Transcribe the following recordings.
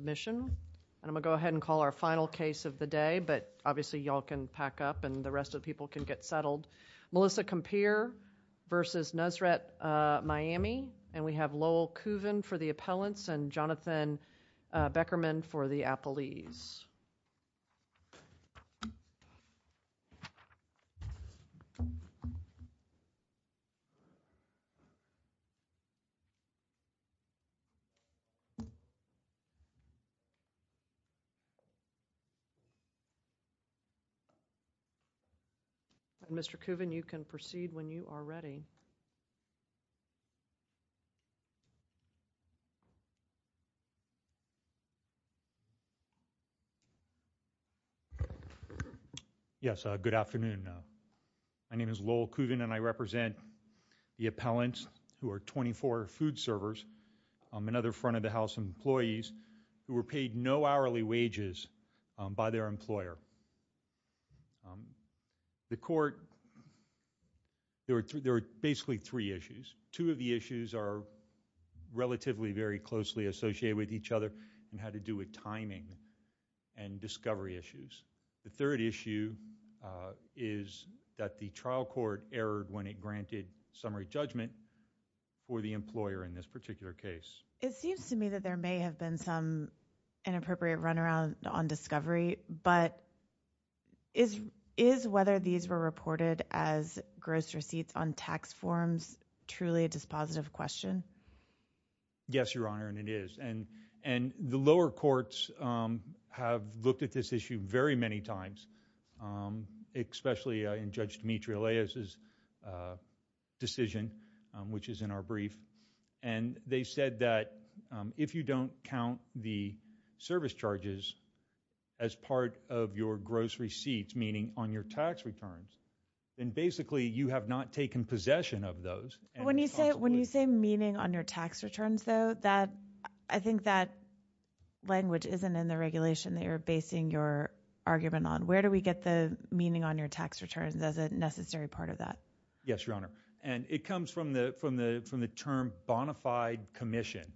Melissa Compere v. Nusret Miami Lowell Kuven for the appellants Jonathan Beckerman for the appellees Mr. Kuvin, you can proceed when you are ready. Yes, good afternoon. My name is Lowell Kuven and I represent the appellants who are 24 food servers and other front of the house employees who were paid no hourly wages by their employer. The court, there are basically three issues. Two of the issues are relatively very closely associated with each other and had to do with timing and discovery issues. The third issue is that the trial court erred when it granted summary judgment for the employer in this particular case. It seems to me that there may have been some inappropriate run around on discovery, but is whether these were reported as gross receipts on tax forms truly a dispositive question? Yes, Your Honor, and it is. And the lower courts have looked at this issue very many times, especially in Judge Dimitri Aleas' decision, which is in our brief. And they said that if you don't count the service charges as part of your gross receipts, meaning on your tax returns, then basically you have not taken possession of those. When you say meaning on your tax returns, though, I think that language isn't in the regulation that you're basing your argument on. Where do we get the meaning on your tax returns as a necessary part of that? Yes, Your Honor, and it comes from the term bonafide commission.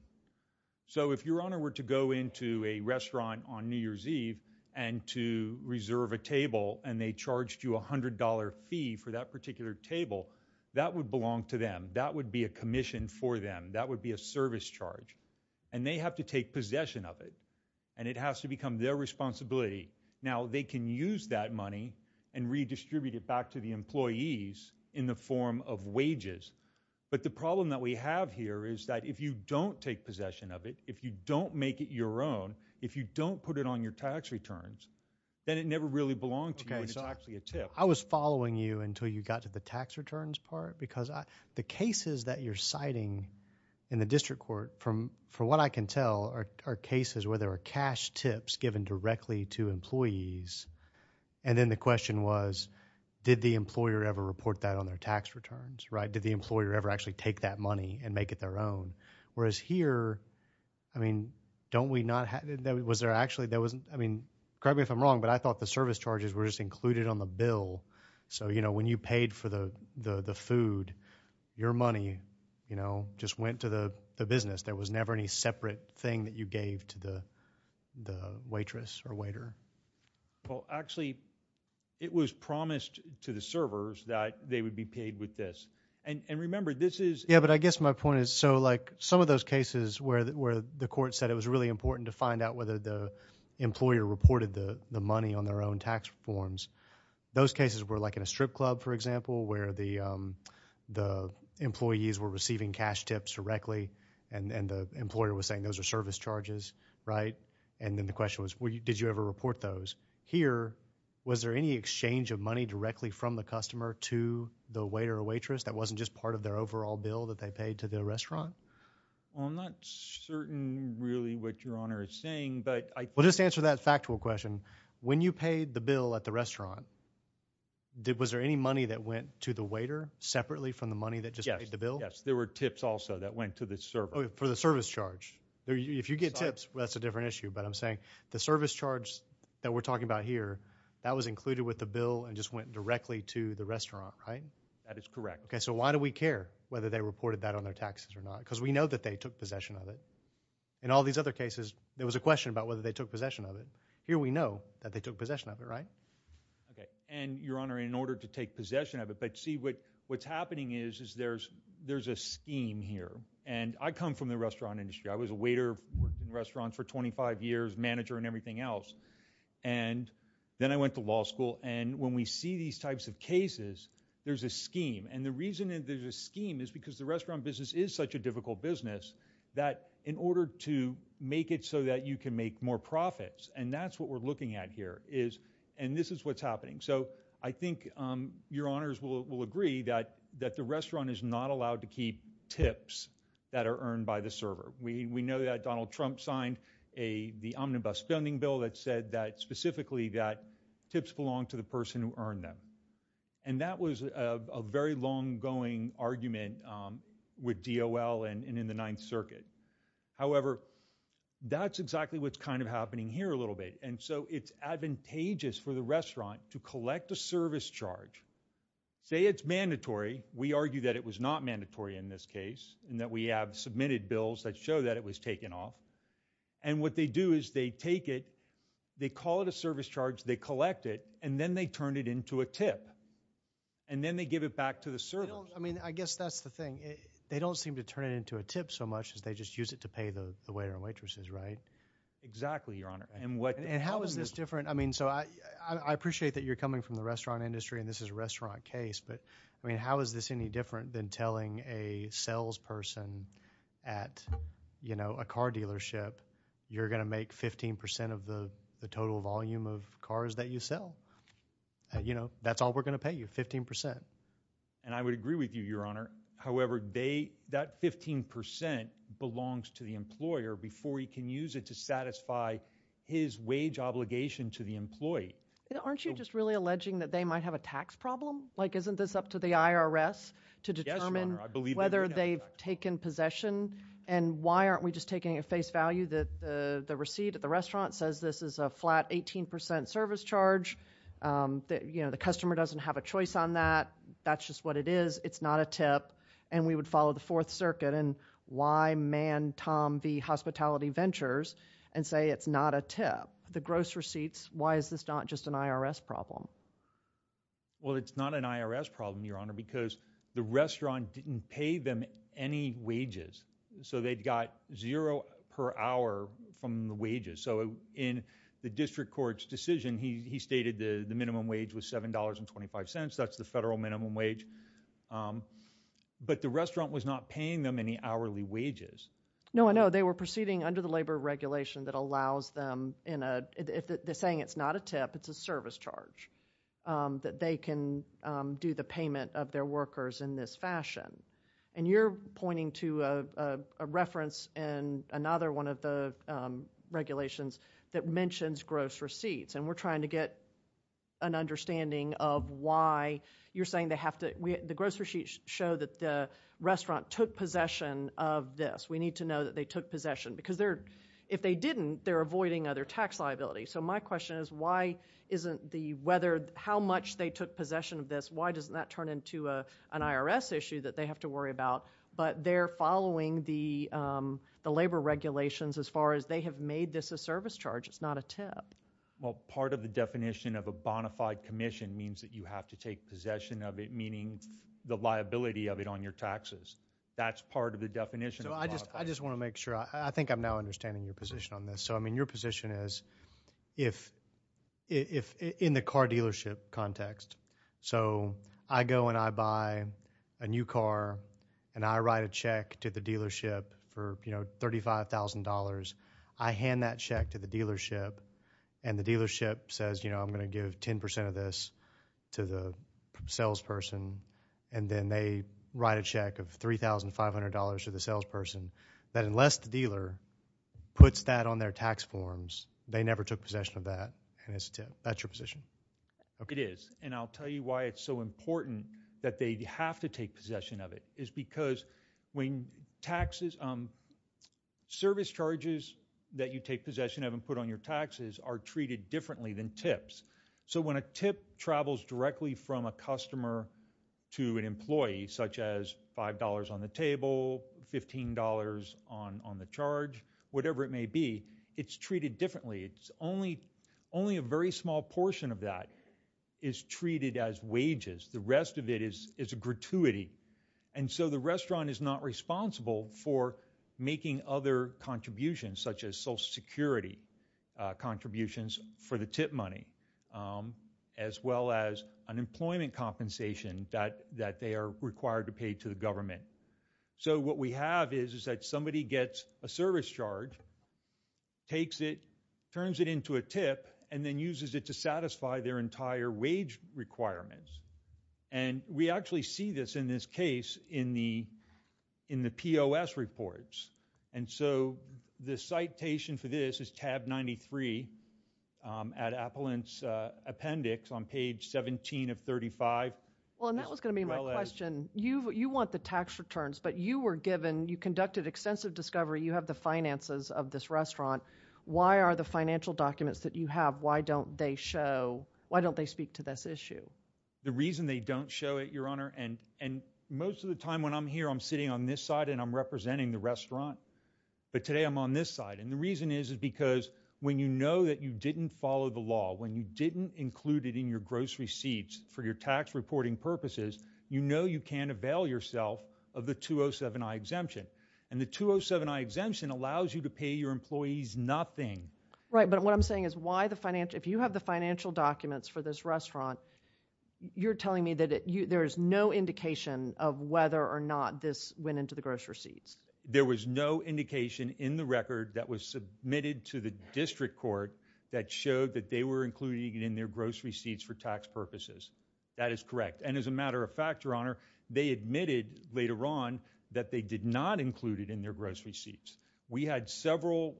So if Your Honor were to go into a restaurant on New Year's Eve and to reserve a table and they charged you a $100 fee for that particular table, that would belong to them. That would be a commission for them. That would be a service charge. And they have to take possession of it. And it has to become their responsibility. Now, they can use that money and redistribute it back to the employees in the form of wages. But the problem that we have here is that if you don't take possession of it, if you don't make it your own, if you don't put it on your tax returns, then it never really belonged to you and it's actually a tip. I was following you until you got to the tax returns part because the cases that you're citing in the district court, from what I can tell, are cases where there are cash tips given directly to employees. And then the question was, did the employer ever report that on their tax returns, right? Did the employer ever actually take that money and make it their own? Whereas here, I mean, correct me if I'm wrong, but I thought the service charges were just included on the bill. So, you know, when you paid for the food, your money, you know, just went to the business. There was never any separate thing that you gave to the waitress or waiter. Well, actually, it was promised to the servers that they would be paid with this. And remember, this is – Yeah, but I guess my point is, so like, some of those cases where the court said it was really important to find out whether the employer reported the money on their own tax forms, those cases were like in a strip club, for example, where the employees were receiving cash tips directly and the employer was saying those are service charges, right? And then the question was, did you ever report those? Here, was there any exchange of money directly from the customer to the waiter or waitress that wasn't just part of their overall bill that they paid to the restaurant? Well, I'm not certain really what Your Honor is saying, but I – Well, just to answer that factual question, when you paid the bill at the restaurant, was there any money that went to the waiter separately from the money that just paid the bill? Yes. Yes. There were tips also that went to the server. For the service charge. If you get tips, that's a different issue, but I'm saying the service charge that we're talking about here, that was included with the bill and just went directly to the restaurant, right? That is correct. Okay. So why do we care whether they reported that on their taxes or not? Because we know that they took possession of it. In all these other cases, there was a question about whether they took possession of it. Here we know that they took possession of it, right? And Your Honor, in order to take possession of it, but see what's happening is there's a scheme here. And I come from the restaurant industry. I was a waiter, worked in restaurants for 25 years, manager and everything else. And then I went to law school and when we see these types of cases, there's a scheme. And the reason that there's a scheme is because the restaurant business is such a difficult business that in order to make it so that you can make more profits, and that's what we're looking at here is, and this is what's happening. So I think Your Honors will agree that the restaurant is not allowed to keep tips that are earned by the server. We know that Donald Trump signed the omnibus funding bill that said that specifically that tips belong to the person who earned them. And that was a very long-going argument with DOL and in the Ninth Circuit. However, that's exactly what's kind of happening here a little bit. And so it's advantageous for the restaurant to collect a service charge. Say it's mandatory. We argue that it was not mandatory in this case and that we have submitted bills that show that it was taken off. And what they do is they take it, they call it a service charge, they collect it, and then they turn it into a tip. And then they give it back to the server. I mean, I guess that's the thing. They don't seem to turn it into a tip so much as they just use it to pay the waiter and waitresses, right? Exactly, Your Honor. And how is this different? I mean, so I appreciate that you're coming from the restaurant industry and this is a restaurant case, but I mean, how is this any different than telling a salesperson at, you know, a car dealership, you're going to make 15 percent of the total volume of cars that you sell? You know, that's all we're going to pay you, 15 percent. And I would agree with you, Your Honor. However, they, that 15 percent belongs to the employer before he can use it to satisfy his wage obligation to the employee. Aren't you just really alleging that they might have a tax problem? Like, isn't this up to the IRS to determine whether they've taken possession? And why aren't we just taking at face value that the receipt at the restaurant says this is a flat 18 percent service charge, that, you know, the customer doesn't have a choice on that, that's just what it is, it's not a tip, and we would follow the Fourth Circuit and why man Tom V. Hospitality Ventures and say it's not a tip? The gross receipts, why is this not just an IRS problem? Well, it's not an IRS problem, Your Honor, because the restaurant didn't pay them any wages. So they'd got zero per hour from the wages. So in the district court's decision, he stated the minimum wage was $7.25, that's the federal minimum wage. But the restaurant was not paying them any hourly wages. No, I know. They were proceeding under the labor regulation that allows them in a, they're saying it's not a tip, it's a service charge, that they can do the payment of their workers in this fashion. And you're pointing to a reference in another one of the regulations that mentions gross receipts, and we're trying to get an understanding of why you're saying they have to, the gross receipts show that the restaurant took possession of this. We need to know that they took possession, because they're, if they didn't, they're avoiding other tax liability. So my question is why isn't the, whether, how much they took possession of this, why doesn't that turn into an IRS issue that they have to worry about? But they're following the labor regulations as far as they have made this a service charge, it's not a tip. Well, part of the definition of a bonafide commission means that you have to take possession of it, meaning the liability of it on your taxes. That's part of the definition of bonafide. I just want to make sure, I think I'm now understanding your position on this. So, I go and I buy a new car, and I write a check to the dealership for, you know, $35,000. I hand that check to the dealership, and the dealership says, you know, I'm going to give 10% of this to the salesperson, and then they write a check of $3,500 to the salesperson, that unless the dealer puts that on their tax forms, they never took possession of that, and it's a tip. That's your position. It is, and I'll tell you why it's so important that they have to take possession of it, is because when taxes, service charges that you take possession of and put on your taxes are treated differently than tips. So when a tip travels directly from a customer to an employee, such as $5 on the table, $15 on the charge, whatever it may be, it's treated differently. It's only a very small portion of that is treated as wages. The rest of it is a gratuity, and so the restaurant is not responsible for making other contributions, such as Social Security contributions for the tip money, as well as unemployment compensation that they are required to pay to the government. So what we have is that somebody gets a service charge, takes it, turns it into a tip, and then uses it to satisfy their entire wage requirements, and we actually see this in this case in the POS reports, and so the citation for this is tab 93 at Appellant's appendix on page 17 of 35, as well as... Well, and that was going to be my question. You want the tax returns, but you were given, you conducted extensive discovery. You have the finances of this restaurant. Why are the financial documents that you have, why don't they show, why don't they speak to this issue? The reason they don't show it, Your Honor, and most of the time when I'm here, I'm sitting on this side and I'm representing the restaurant, but today I'm on this side, and the reason is is because when you know that you didn't follow the law, when you didn't include it in your gross receipts for your tax reporting purposes, you know you can avail yourself of the 207-I exemption, and the 207-I exemption allows you to pay your employees nothing. Right, but what I'm saying is why the financial, if you have the financial documents for this restaurant, you're telling me that there is no indication of whether or not this went into the gross receipts? There was no indication in the record that was submitted to the district court that showed that they were including it in their gross receipts for tax purposes. That is correct, and as a matter of fact, Your Honor, they admitted later on that they did not include it in their gross receipts. We had several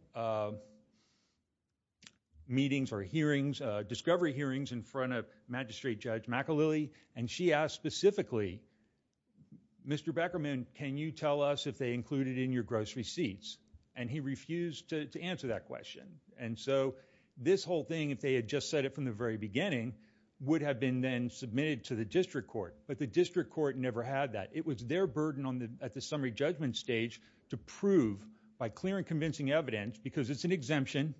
meetings or hearings, discovery hearings in front of Magistrate Judge McAlily, and she asked specifically, Mr. Beckerman, can you tell us if they included it in your gross receipts? And he refused to answer that question, and so this whole thing, if they had just said it from the very beginning, would have been then submitted to the district court, but the district court never had that. It was their burden at the summary judgment stage to prove, by clear and convincing evidence, because it's an exemption,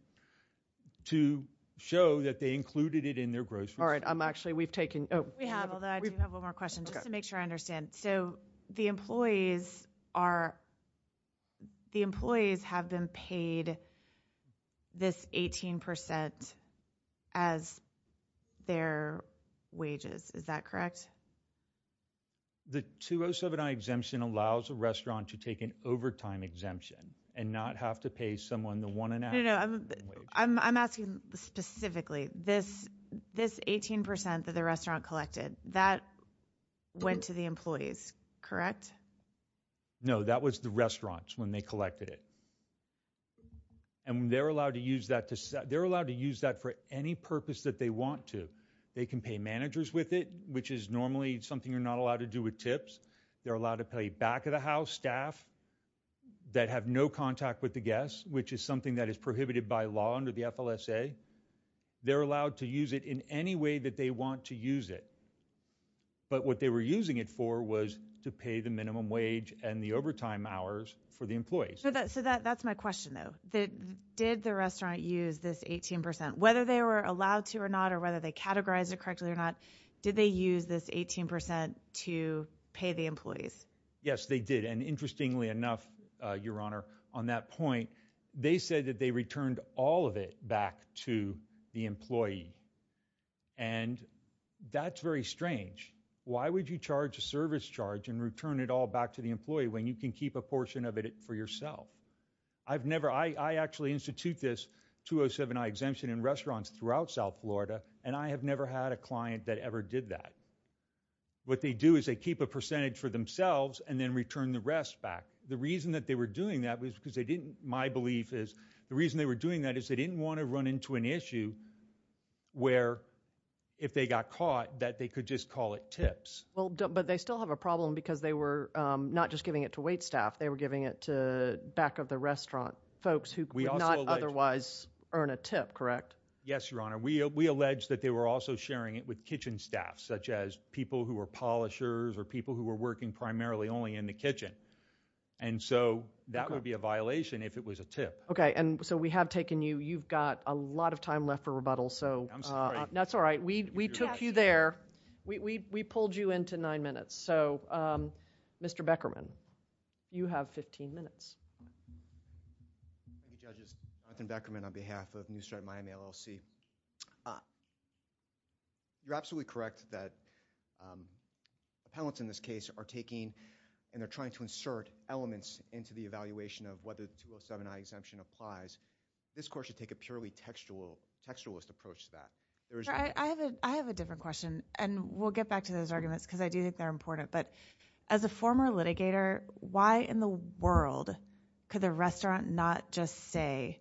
to show that they included it in their gross receipts. All right, I'm actually, we've taken, oh. We have, although I do have one more question, just to make sure I understand. So the employees are, the employees have been paid this 18% as their wages, is that correct? The 2079 exemption allows a restaurant to take an overtime exemption and not have to pay someone the one and a half percent wage. No, no, I'm asking specifically, this 18% that the restaurant collected, that went to the employees, correct? No, that was the restaurants when they collected it. And they're allowed to use that to, they're allowed to use that for any purpose that they want to. They can pay managers with it, which is normally something you're not allowed to do with tips. They're allowed to pay back of the house staff that have no contact with the guests, which is something that is prohibited by law under the FLSA. They're allowed to use it in any way that they want to use it. But what they were using it for was to pay the minimum wage and the overtime hours for the employees. So that's my question, though. Did the restaurant use this 18%? Whether they were allowed to or not, or whether they categorized it correctly or not, did they use this 18% to pay the employees? Yes, they did. And interestingly enough, Your Honor, on that point, they said that they Why would you charge a service charge and return it all back to the employee when you can keep a portion of it for yourself? I've never, I actually institute this 207I exemption in restaurants throughout South Florida, and I have never had a client that ever did that. What they do is they keep a percentage for themselves and then return the rest back. The reason that they were doing that was because they didn't, my belief is, the reason they were doing that is they didn't want to run into an issue where if they got caught, that they could just call it tips. But they still have a problem because they were not just giving it to waitstaff, they were giving it to back of the restaurant folks who could not otherwise earn a tip, correct? Yes, Your Honor. We allege that they were also sharing it with kitchen staff, such as people who were polishers or people who were working primarily only in the kitchen. And so that would be a violation if it was a tip. Okay. And so we have taken you, you've got a lot of time left for rebuttal. I'm sorry. No, that's all right. We took you there. We pulled you into nine minutes. So Mr. Beckerman, you have 15 minutes. Thank you, Judges. Jonathan Beckerman on behalf of Newstripe Miami LLC. You're absolutely correct that appellants in this case are taking and they're trying to insert elements into the evaluation of whether the 207I exemption applies. This court should take a purely textualist approach to that. I have a different question and we'll get back to those arguments because I do think they're important. But as a former litigator, why in the world could the restaurant not just say,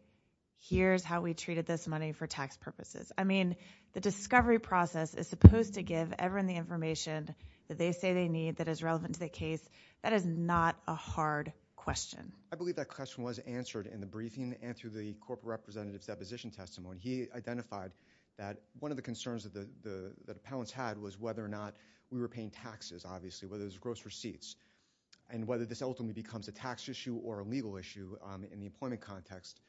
here's how we treated this money for tax purposes? I mean, the discovery process is supposed to give everyone the information that they say they need that is relevant to the case. That is not a hard question. I believe that question was answered in the briefing and through the corporate representative's position testimony, he identified that one of the concerns that the appellants had was whether or not we were paying taxes, obviously, whether it was gross receipts, and whether this ultimately becomes a tax issue or a legal issue in the employment context.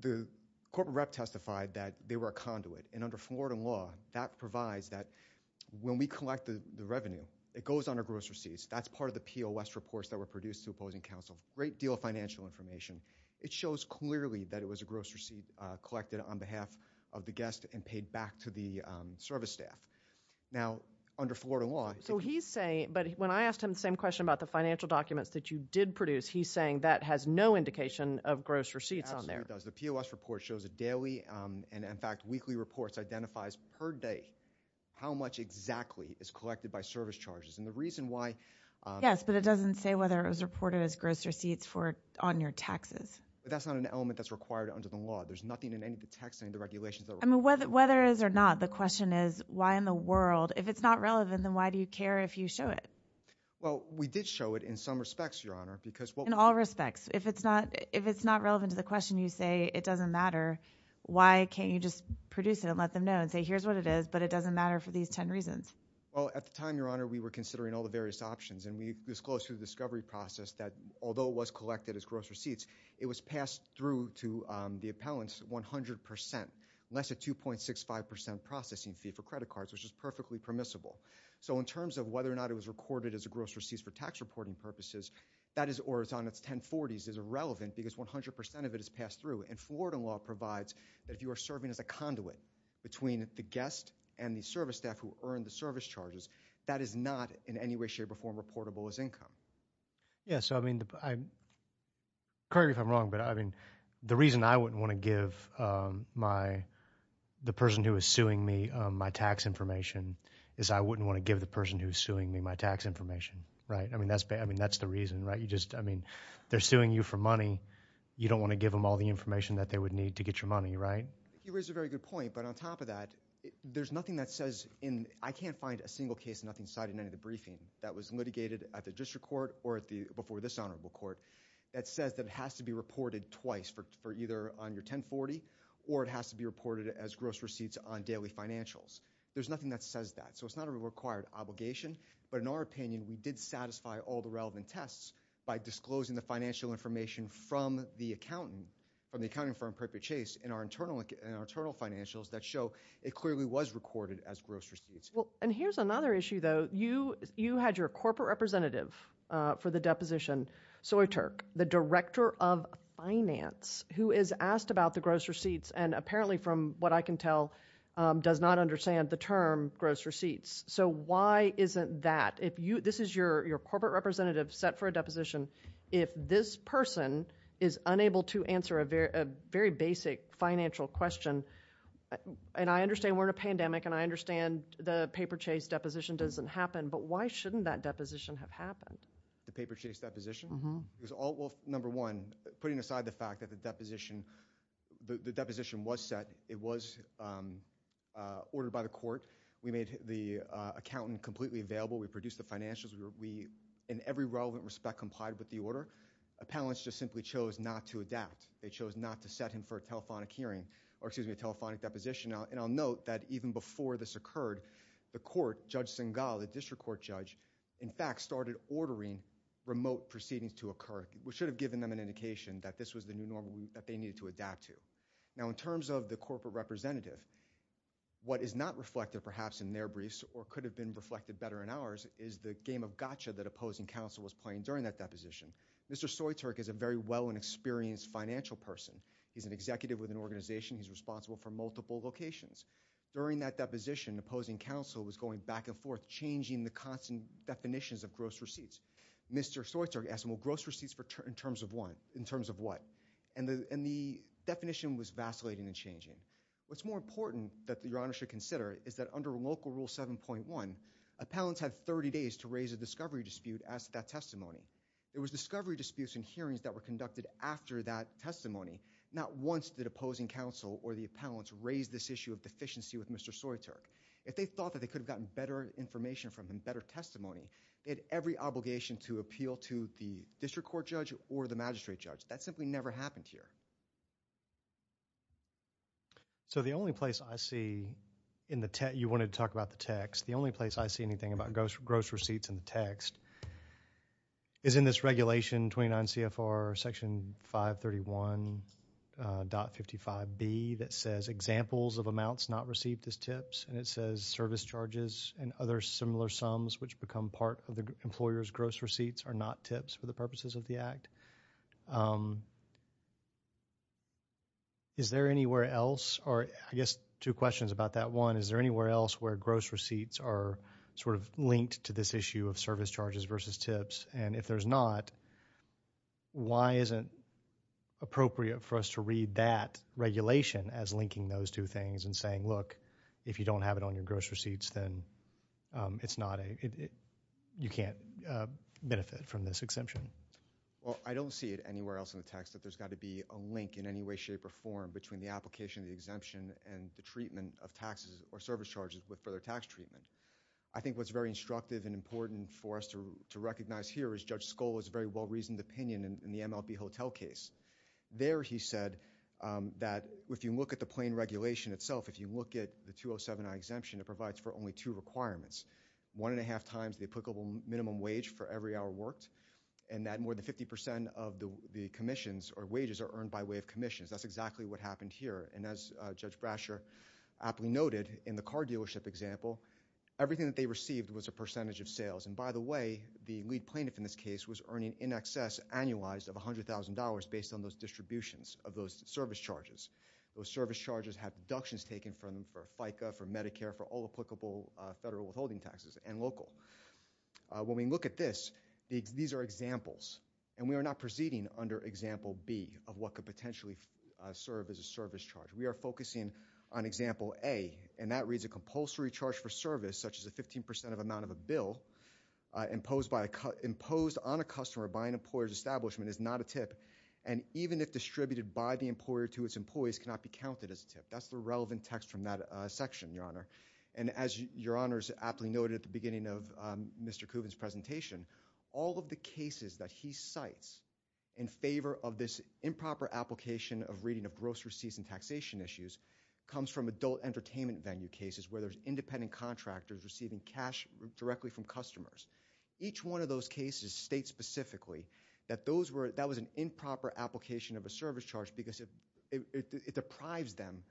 The corporate rep testified that they were a conduit. And under Florida law, that provides that when we collect the revenue, it goes under gross receipts. That's part of the POS reports that were produced to opposing counsel. Great deal of financial information. It shows clearly that it was a gross receipt collected on behalf of the guest and paid back to the service staff. Now, under Florida law- So he's saying, but when I asked him the same question about the financial documents that you did produce, he's saying that has no indication of gross receipts on there. Absolutely does. The POS report shows it daily and, in fact, weekly reports identifies per day how much exactly is collected by service charges. And the reason why- Yes, but it doesn't say whether it was reported as gross receipts on your taxes. But that's not an element that's required under the law. There's nothing in any of the tax regulations that- I mean, whether it is or not, the question is, why in the world? If it's not relevant, then why do you care if you show it? Well, we did show it in some respects, Your Honor, because- In all respects. If it's not relevant to the question, you say it doesn't matter, why can't you just produce it and let them know and say, here's what it is, but it doesn't matter for these 10 reasons? Well, at the time, Your Honor, we were considering all the various options. And we disclosed through the discovery process that although it was collected as gross receipts, it was passed through to the appellants 100%, less a 2.65% processing fee for credit cards, which is perfectly permissible. So in terms of whether or not it was recorded as a gross receipt for tax reporting purposes, that is on its 1040s, is irrelevant because 100% of it is passed through. And Florida law provides that if you are serving as a conduit between the guest and the service staff who earned the service charges, that is not in any way, shape or form reportable as income. Yes. I mean, correct me if I'm wrong, but I mean, the reason I wouldn't want to give the person who is suing me my tax information is I wouldn't want to give the person who is suing me my tax information, right? I mean, that's the reason, right? I mean, they're suing you for money. You don't want to give them all the information that they would need to get your money, right? You raise a very good point. But on top of that, there's nothing that says in- I can't find a single case, nothing cited in any of the briefing that was litigated at the district court or before this honorable court that says that it has to be reported twice for either on your 1040 or it has to be reported as gross receipts on daily financials. There's nothing that says that. So it's not a required obligation. But in our opinion, we did satisfy all the relevant tests by disclosing the financial information from the accountant, from the accounting firm, Proprietary Chase, in our internal financials that show it clearly was recorded as gross receipts. And here's another issue, though. You had your corporate representative for the deposition, Soy Turk, the director of finance, who is asked about the gross receipts and apparently from what I can tell, does not understand the term gross receipts. So why isn't that if you- this is your corporate representative set for a deposition. If this person is unable to answer a very basic financial question, and I understand we're in a pandemic and I think the paper chase deposition doesn't happen, but why shouldn't that deposition have happened? The paper chase deposition? Mm-hmm. Because all- well, number one, putting aside the fact that the deposition- the deposition was set. It was ordered by the court. We made the accountant completely available. We produced the financials. We, in every relevant respect, complied with the order. Appellants just simply chose not to adapt. They chose not to set him for a telephonic hearing or excuse me, a telephonic deposition. And I'll note that even before this occurred, the court, Judge Singal, the district court judge, in fact, started ordering remote proceedings to occur, which should have given them an indication that this was the new normal that they needed to adapt to. Now, in terms of the corporate representative, what is not reflected perhaps in their briefs or could have been reflected better in ours is the game of gotcha that opposing counsel was playing during that deposition. Mr. Soy Turk is a very well and experienced financial person. He's an executive with an organization. He's responsible for multiple locations. During that deposition, opposing counsel was going back and forth, changing the constant definitions of gross receipts. Mr. Soy Turk asked them, well, gross receipts in terms of what? And the definition was vacillating and changing. What's more important that Your Honor should consider is that under Local Rule 7.1, appellants have 30 days to raise a discovery dispute as to that testimony. There was discovery disputes and hearings that were conducted after that testimony. Not once did opposing counsel or the appellants raise this issue of deficiency with Mr. Soy Turk. If they thought that they could have gotten better information from him, better testimony, they had every obligation to appeal to the district court judge or the magistrate judge. That simply never happened here. So the only place I see in the text, you wanted to talk about the text, the only place I see anything about gross receipts in the text, is in this regulation, 29 C.F.R. Section 531.55B that says examples of amounts not received as tips, and it says service charges and other similar sums which become part of the employer's gross receipts are not tips for the purposes of the act. Is there anywhere else, or I guess two questions about that. One, is there anywhere else where gross receipts are sort of linked to this issue of service charges versus tips, and if there's not, why isn't it appropriate for us to read that regulation as linking those two things and saying, look, if you don't have it on your gross receipts, then it's not a, you can't benefit from this exemption? I don't see it anywhere else in the text that there's got to be a link in any way, shape, or form between the application of the exemption and the treatment of taxes or service charges with further tax treatment. I think what's very instructive and important for us to recognize here is Judge Skoll has a very well-reasoned opinion in the MLB Hotel case. There he said that if you look at the plain regulation itself, if you look at the 207I exemption, it provides for only two requirements, one and a half times the applicable minimum wage for every hour worked, and that more than 50 percent of the commissions or wages are earned by way of commissions. That's exactly what happened here, and as Judge Brasher aptly noted in the car dealership example, everything that they received was a percentage of sales, and by the way, the lead plaintiff in this case was earning in excess annualized of $100,000 based on those distributions of those service charges. Those service charges have deductions taken from them for FICA, for Medicare, for all applicable federal withholding taxes and local. When we look at this, these are examples, and we are not proceeding under example B of what could potentially serve as a service charge. We are focusing on example A, and that reads a compulsory charge for service, such as a 15 percent of amount of a bill imposed on a customer by an employer's establishment is not a tip, and even if distributed by the employer to its employees cannot be counted as a tip. That's the relevant text from that section, Your Honor, and as Your Honors aptly noted at the beginning of Mr. Kuvin's presentation, all of the cases that he cites in favor of this improper application of reading of gross receipts and taxation issues comes from adult entertainment venue cases where there's independent contractors receiving cash directly from customers. Each one of those cases states specifically that that was an improper application of a service charge because it deprives them,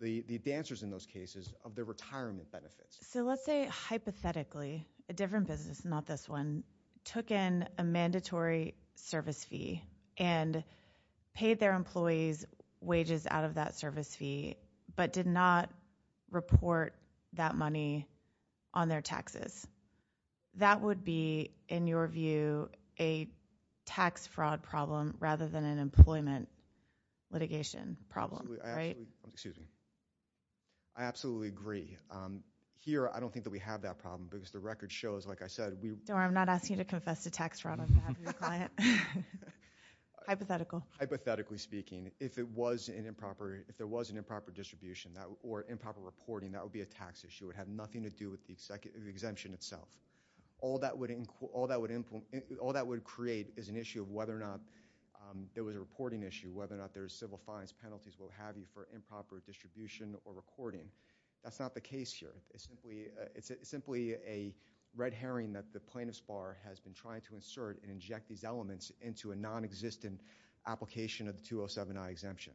the dancers in those cases, of their retirement benefits. So let's say, hypothetically, a different business, not this one, took in a mandatory service fee and paid their employees wages out of that service fee but did not report that money on their taxes. That would be, in your view, a tax fraud problem rather than an employment litigation problem, right? I absolutely agree. Here, I don't think that we have that problem because the record shows, like I said, we Don't worry, I'm not asking you to confess to tax fraud on behalf of your client. Hypothetical. Hypothetically speaking, if there was an improper distribution or improper reporting, that would be a tax issue. It would have nothing to do with the exemption itself. All that would create is an issue of whether or not there was a reporting issue, whether or not there was an improper distribution or recording. That's not the case here. It's simply a red herring that the plaintiff's bar has been trying to insert and inject these elements into a non-existent application of the 207-I exemption.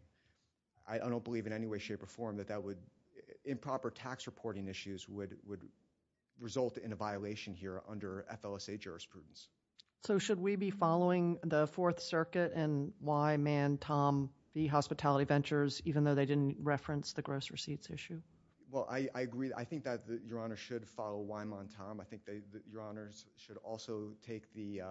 I don't believe in any way, shape or form that improper tax reporting issues would result in a violation here under FLSA jurisprudence. So should we be following the Fourth Circuit and why man Tom, the hospitality ventures, even though they didn't reference the gross receipts issue? Well, I agree. I think that Your Honor should follow why man Tom. I think that Your Honor should also take the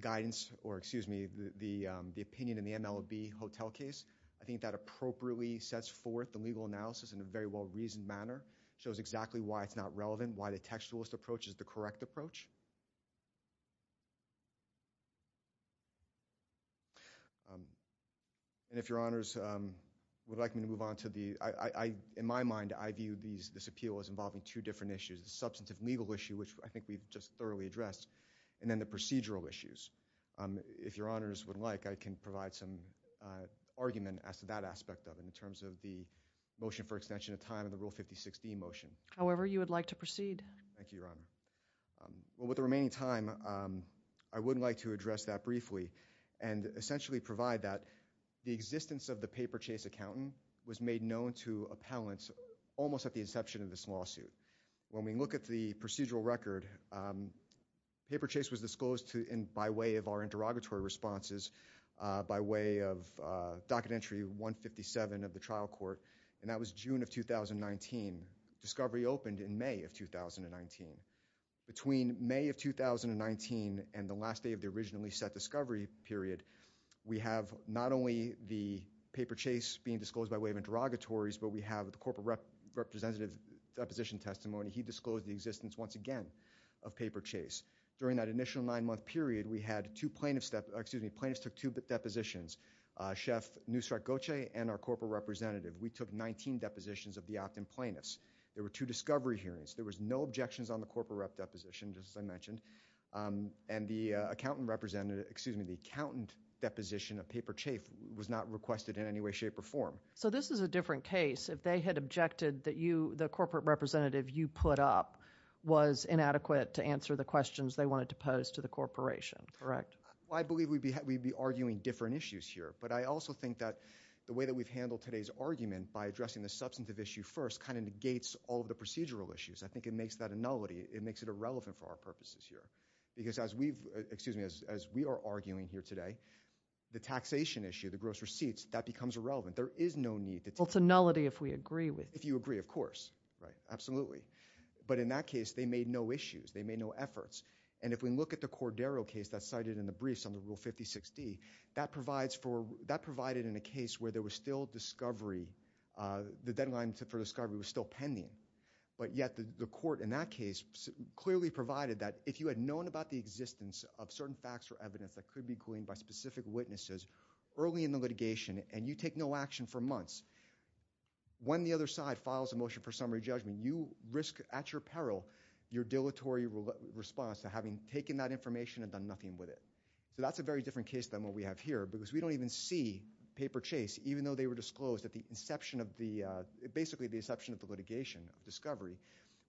guidance, or excuse me, the opinion in the MLB hotel case. I think that appropriately sets forth the legal analysis in a very well-reasoned manner. It shows exactly why it's not relevant, why the textualist approach is the correct approach. And if Your Honors would like me to move on to the, in my mind, I view this appeal as involving two different issues, the substantive legal issue, which I think we've just thoroughly addressed, and then the procedural issues. If Your Honors would like, I can provide some argument as to that aspect of it in terms of the motion for extension of time and the Rule 5016 motion. However, you would like to proceed. Thank you, Your Honor. Well, with the remaining time, I would like to address that briefly and essentially provide that the existence of the paper chase accountant was made known to appellants almost at the inception of this lawsuit. When we look at the procedural record, paper chase was disclosed by way of our interrogatory responses, by way of Docket Entry 157 of the 2019. Between May of 2019 and the last day of the originally set discovery period, we have not only the paper chase being disclosed by way of interrogatories, but we have the corporate representative's deposition testimony. He disclosed the existence once again of paper chase. During that initial nine-month period, we had two plaintiffs, excuse me, plaintiffs took two depositions, Chef Nusrat Goce and our corporate representative. We took 19 depositions of the opt-in plaintiffs. There were two discovery hearings. There was no objections on the corporate rep deposition, just as I mentioned. The accountant deposition of paper chase was not requested in any way, shape, or form. This is a different case. If they had objected that the corporate representative you put up was inadequate to answer the questions they wanted to pose to the corporation, correct? I believe we'd be arguing different issues here. I also think that the way that we've first kind of negates all of the procedural issues. I think it makes that a nullity. It makes it irrelevant for our purposes here. Because as we are arguing here today, the taxation issue, the gross receipts, that becomes irrelevant. There is no need to— Well, it's a nullity if we agree with it. If you agree, of course. Absolutely. In that case, they made no issues. They made no efforts. If we look at the Cordero case that's cited in the briefs on the Rule 56D, that provided in a case where there was still discovery, the deadline for discovery was still pending, but yet the court in that case clearly provided that if you had known about the existence of certain facts or evidence that could be gleaned by specific witnesses early in the litigation and you take no action for months, when the other side files a motion for summary judgment, you risk at your peril your dilatory response to having taken that information and done nothing with it. That's a very different case than what we have here because we don't even see paper chase, even though they were disclosed at the inception of the—basically the inception of the litigation of discovery.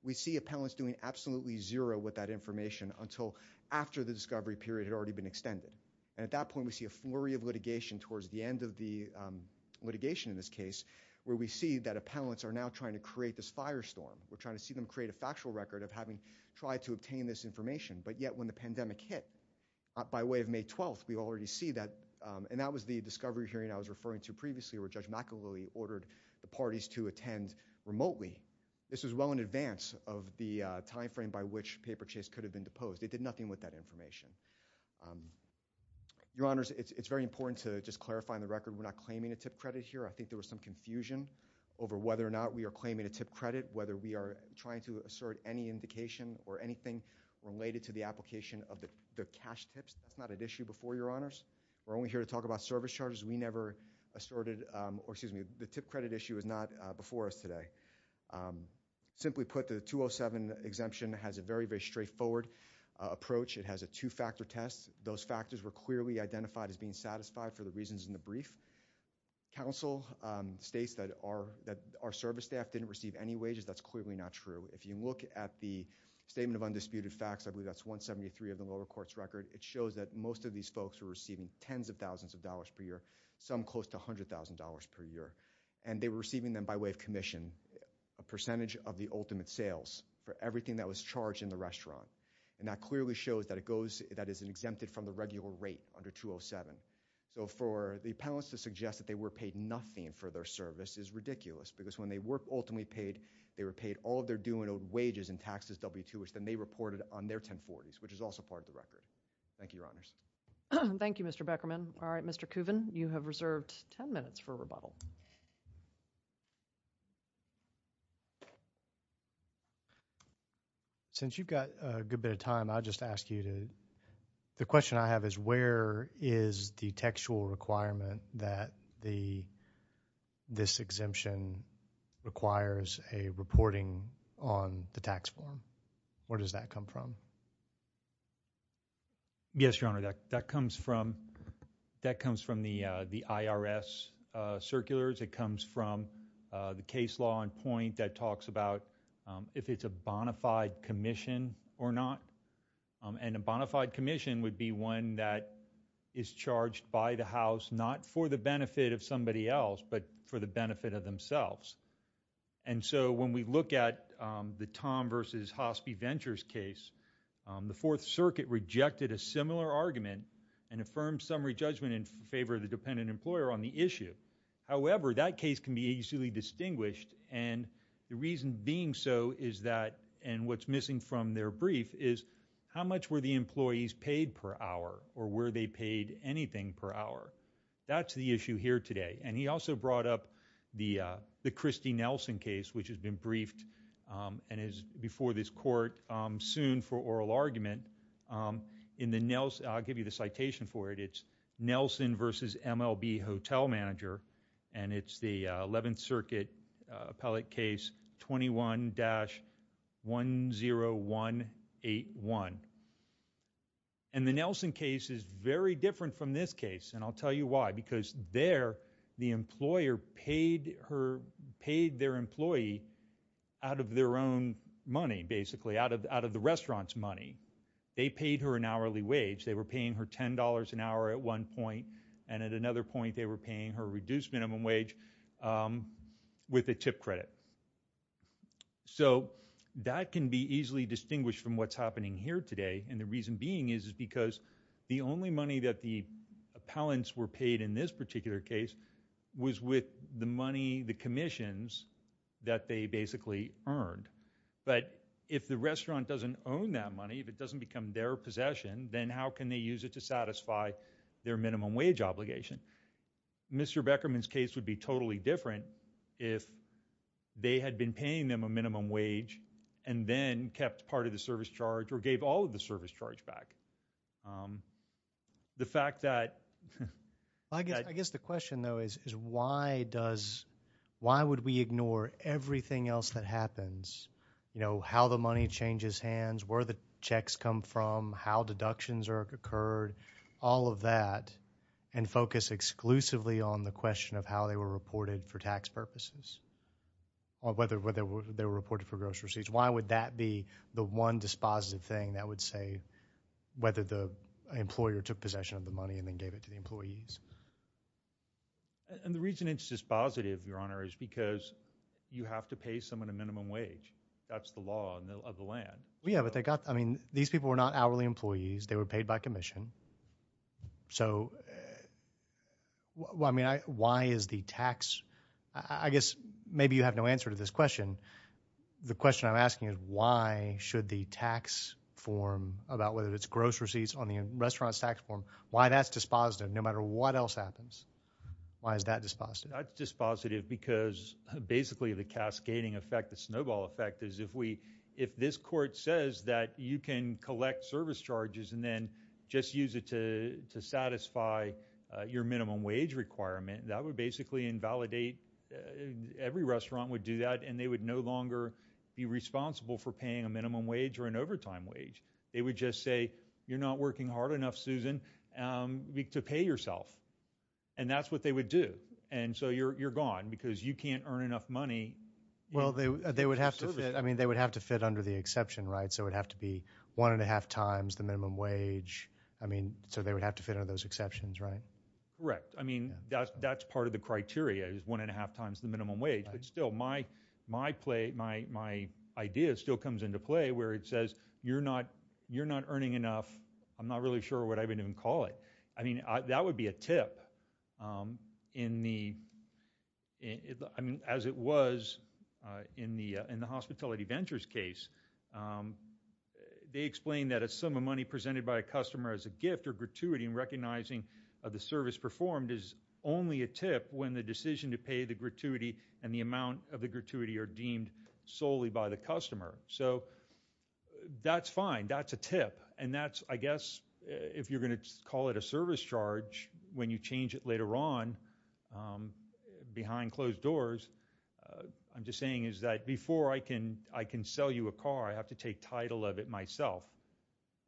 We see appellants doing absolutely zero with that information until after the discovery period had already been extended. At that point, we see a flurry of litigation towards the end of the litigation in this case where we see that appellants are now trying to create this firestorm. We're trying to see them create a factual record of having tried to obtain this information, but yet when the pandemic hit by way of May 12th, we already see that, and that was the discovery hearing I was referring to previously where Judge McAloy ordered the parties to attend remotely. This was well in advance of the timeframe by which paper chase could have been deposed. They did nothing with that information. Your Honors, it's very important to just clarify on the record we're not claiming a tip credit here. I think there was some confusion over whether or not we are claiming a tip credit, whether we are trying to assert any indication or anything related to the application of the cash tips. That's not an issue before, Your Honors. We're only here to talk about service charges. We never asserted, or excuse me, the tip credit issue is not before us today. Simply put, the 207 exemption has a very, very straightforward approach. It has a two-factor test. Those factors were clearly identified as being satisfied for the reasons in the brief. Counsel states that our service staff didn't receive any tip credit. That's not true. If you look at the Statement of Undisputed Facts, I believe that's 173 of the lower court's record, it shows that most of these folks were receiving tens of thousands of dollars per year, some close to $100,000 per year. They were receiving them by way of commission, a percentage of the ultimate sales for everything that was charged in the restaurant. That clearly shows that it is exempted from the regular rate under 207. For the appellants to suggest that they were paid nothing for their service is they're doing wages and taxes W-2-ish than they reported on their 1040s, which is also part of the record. Thank you, Your Honors. Thank you, Mr. Beckerman. All right, Mr. Kuvin, you have reserved 10 minutes for rebuttal. Since you've got a good bit of time, I'll just ask you to, the question I have is where is the textual requirement that this exemption requires a reporting requirement? On the tax form, where does that come from? Yes, Your Honor, that comes from the IRS circulars. It comes from the case law in point that talks about if it's a bonafide commission or not. And a bonafide commission would be one that is charged by the House, not for the benefit of somebody else, but for the benefit of themselves. And so when we look at the Tom versus Hospi Ventures case, the Fourth Circuit rejected a similar argument and affirmed summary judgment in favor of the dependent employer on the issue. However, that case can be easily distinguished and the reason being so is that, and what's missing from their brief, is how much were the employees paid per hour or were they paid anything per hour? That's the issue here today. And he also brought up the Christy Nelson case, which has been briefed and is before this court soon for oral argument. In the Nelson, I'll give you the citation for it, it's Nelson versus MLB Hotel Manager, and it's the Eleventh Circuit appellate case 21-10181. And the Nelson case is very different from this case, and I'll tell you why, because there the employer paid their employee out of their own money, basically, out of the restaurant's money. They paid her an hourly wage, they were paying her $10 an hour at one point, and at another point they were paying her a reduced minimum wage with a tip credit. So that can be easily distinguished from what's happening here today, and the only money that the appellants were paid in this particular case was with the money, the commissions, that they basically earned. But if the restaurant doesn't own that money, if it doesn't become their possession, then how can they use it to satisfy their minimum wage obligation? Mr. Beckerman's case would be totally different if they had been paying them a minimum wage and then kept part of the service charge or gave all of the service charge back. The fact that... I guess the question, though, is why does, why would we ignore everything else that happens? You know, how the money changes hands, where the checks come from, how deductions are occurred, all of that, and focus exclusively on the question of how they were reported for tax purposes, or whether they were reported for gross receipts. Why would that be the one dispositive thing that would say whether the employer took possession of the money and then gave it to the employees? And the reason it's dispositive, Your Honor, is because you have to pay someone a minimum wage. That's the law of the land. Yeah, but they got, I mean, these people were not hourly employees. They were paid by commission. So, well, I mean, why is the tax... I guess maybe you have no answer to this question. The question I'm asking is why should the tax form, about whether it's gross receipts on the restaurant's tax form, why that's dispositive no matter what else happens? Why is that dispositive? That's dispositive because basically the cascading effect, the snowball effect, is if we, if this court says that you can collect service charges and then just use it to satisfy your minimum wage requirement, that would basically invalidate, every restaurant would do that, and they would no longer be responsible for paying a minimum wage or an overtime wage. They would just say, you're not working hard enough, Susan, to pay yourself. And that's what they would do. And so you're gone because you can't earn enough money. Well, they would have to fit, I mean, they would have to fit under the exception, right? So it would have to be one and a half times the minimum wage. I mean, so they would have to fit under those exceptions, right? Correct. I mean, that's part of the criteria, is one and a half times the minimum wage. But still, my play, my idea still comes into play where it says, you're not earning enough. I'm not really sure what I would even call it. I mean, that would be a tip in the, I mean, as it was in the hospitality ventures case. They explained that a sum of money presented by a customer as a gift or gratuity in recognizing the service performed is only a tip when the amount of the gratuity are deemed solely by the customer. So that's fine. That's a tip. And that's, I guess, if you're going to call it a service charge when you change it later on behind closed doors, I'm just saying is that before I can sell you a car, I have to take title of it myself,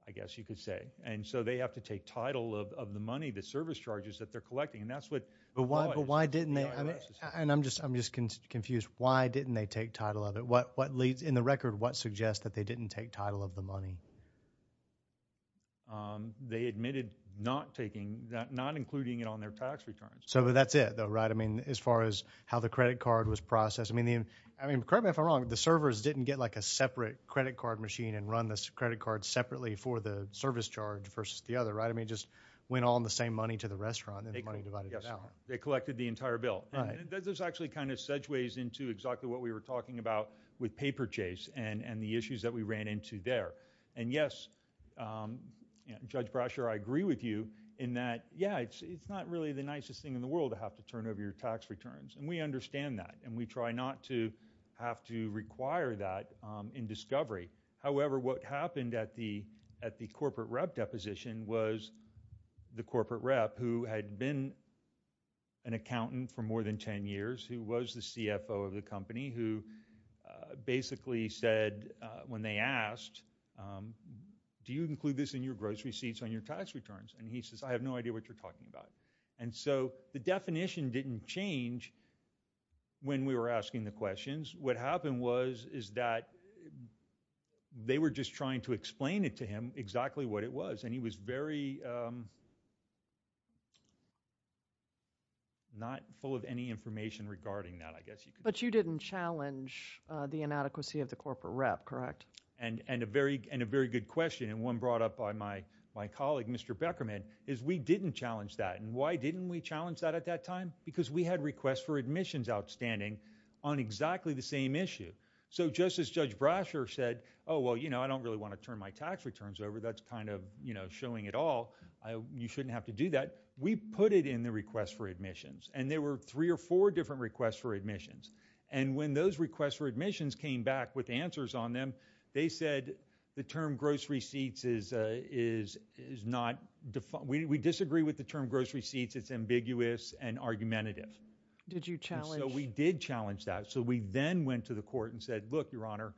I guess you could say. And so they have to take title of the money, the service charges that they're collecting. And that's what the IRS is doing. And I'm just confused. Why didn't they take title of it? In the record, what suggests that they didn't take title of the money? They admitted not taking, not including it on their tax returns. So that's it, though, right? I mean, as far as how the credit card was processed. I mean, correct me if I'm wrong, the servers didn't get like a separate credit card machine and run this credit card separately for the service charge versus the other, right? I mean, just went on the same money to the restaurant and the money divided out. They collected the entire bill. This actually kind of segues into exactly what we were talking about with paper chase and the issues that we ran into there. And yes, Judge Brasher, I agree with you in that, yeah, it's not really the nicest thing in the world to have to turn over your tax returns. And we understand that. And we try not to have to require that in discovery. However, what happened at the corporate rep deposition was the corporate rep who had been an accountant for more than 10 years, who was the CFO of the company, who basically said when they asked, do you include this in your gross receipts on your tax returns? And he says, I have no idea what you're talking about. And so the definition didn't change when we were asking the questions. What happened was is that they were just trying to explain it to him exactly what it was. And he was very not full of any information regarding that, I guess. But you didn't challenge the inadequacy of the corporate rep, correct? And a very good question, and one brought up by my colleague, Mr. Beckerman, is we didn't challenge that. And why didn't we challenge that at that time? Because we had requests for admissions outstanding on exactly the same issue. So just as Judge Brasher said, oh, well, you know, I don't really want to turn my tax returns over. That's kind of, you know, showing it all. You shouldn't have to do that. We put it in the request for admissions. And there were three or four different requests for admissions. And when those requests for admissions came back with answers on them, they said the term gross receipts is not, we disagree with the term gross receipts. It's ambiguous and argumentative. Did you challenge? We did challenge that. So we then went to the court and said, look, Your Honor,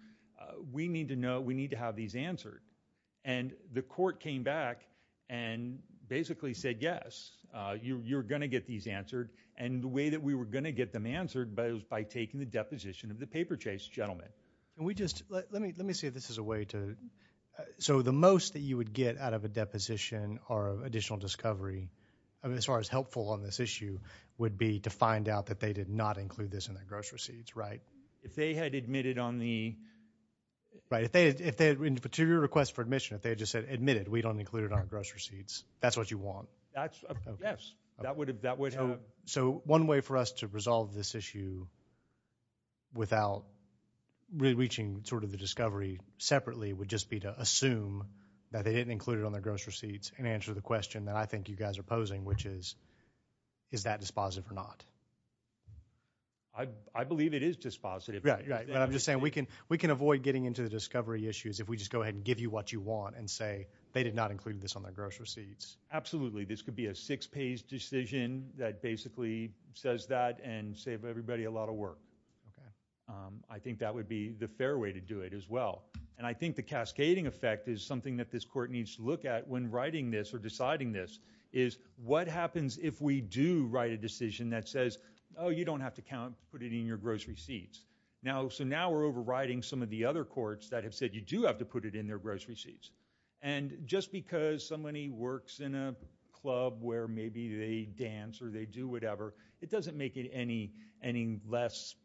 we need to know, we need to have these answered. And the court came back and basically said, yes, you're going to get these answered. And the way that we were going to get them answered was by taking the deposition of the paper chase gentleman. We just, let me, let me see if this is a way to, so the most that you would get out of a deposition or additional discovery, I mean, as far as helpful on this issue would be to find out that they did not include this in their gross receipts, right? If they had admitted on the. Right. If they had, if they had been to your request for admission, if they had just said admitted, we don't include it on gross receipts. That's what you want. That's a yes. That would have, that would help. So one way for us to resolve this issue without really reaching sort of the discovery separately would just be to assume that they didn't include it on their gross receipts and answer the question. I believe it is dispositive. Right, right. But I'm just saying we can, we can avoid getting into the discovery issues if we just go ahead and give you what you want and say they did not include this on their gross receipts. Absolutely. This could be a six page decision that basically says that and save everybody a lot of work. I think that would be the fair way to do it as well. And I think the cascading effect is something that this court needs to look at when writing this or deciding this is what happens if we do write a decision that says, oh, you don't have to count, put it in your gross receipts. Now, so now we're overriding some of the other courts that have said you do have to put it in their gross receipts. And just because somebody works in a club where maybe they dance or they do whatever, it doesn't make it any, any less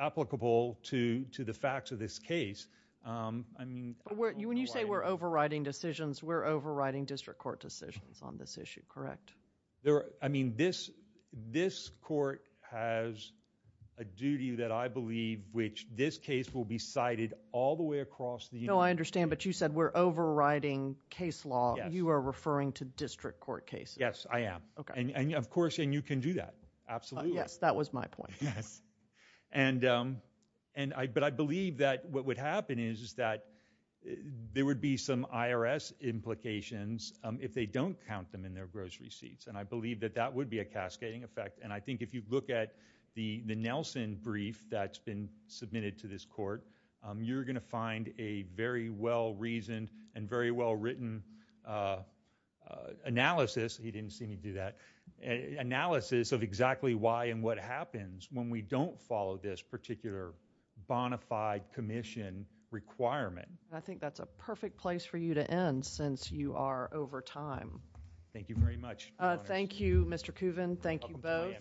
applicable to, to the facts of this case. I mean. When you say we're overriding decisions, we're overriding district court decisions on this issue, correct? There, I mean, this, this court has a duty that I believe which this case will be cited all the way across the union. No, I understand. But you said we're overriding case law. You are referring to district court cases. Yes, I am. And of course, and you can do that. Absolutely. Yes, that was my point. Yes. And, and I, but I believe that what would happen is that there would be some IRS implications if they don't count them in their gross receipts. And I believe that that would be a cascading effect. And I think if you look at the, the Nelson brief that's been submitted to this court, you're going to find a very well reasoned and very well written analysis. He didn't seem to do that. Analysis of exactly why and what happens when we don't follow this particular bonafide commission requirement. I think that's a perfect place for you to end since you are over time. Thank you very much. Thank you, Mr. Coven. Thank you both.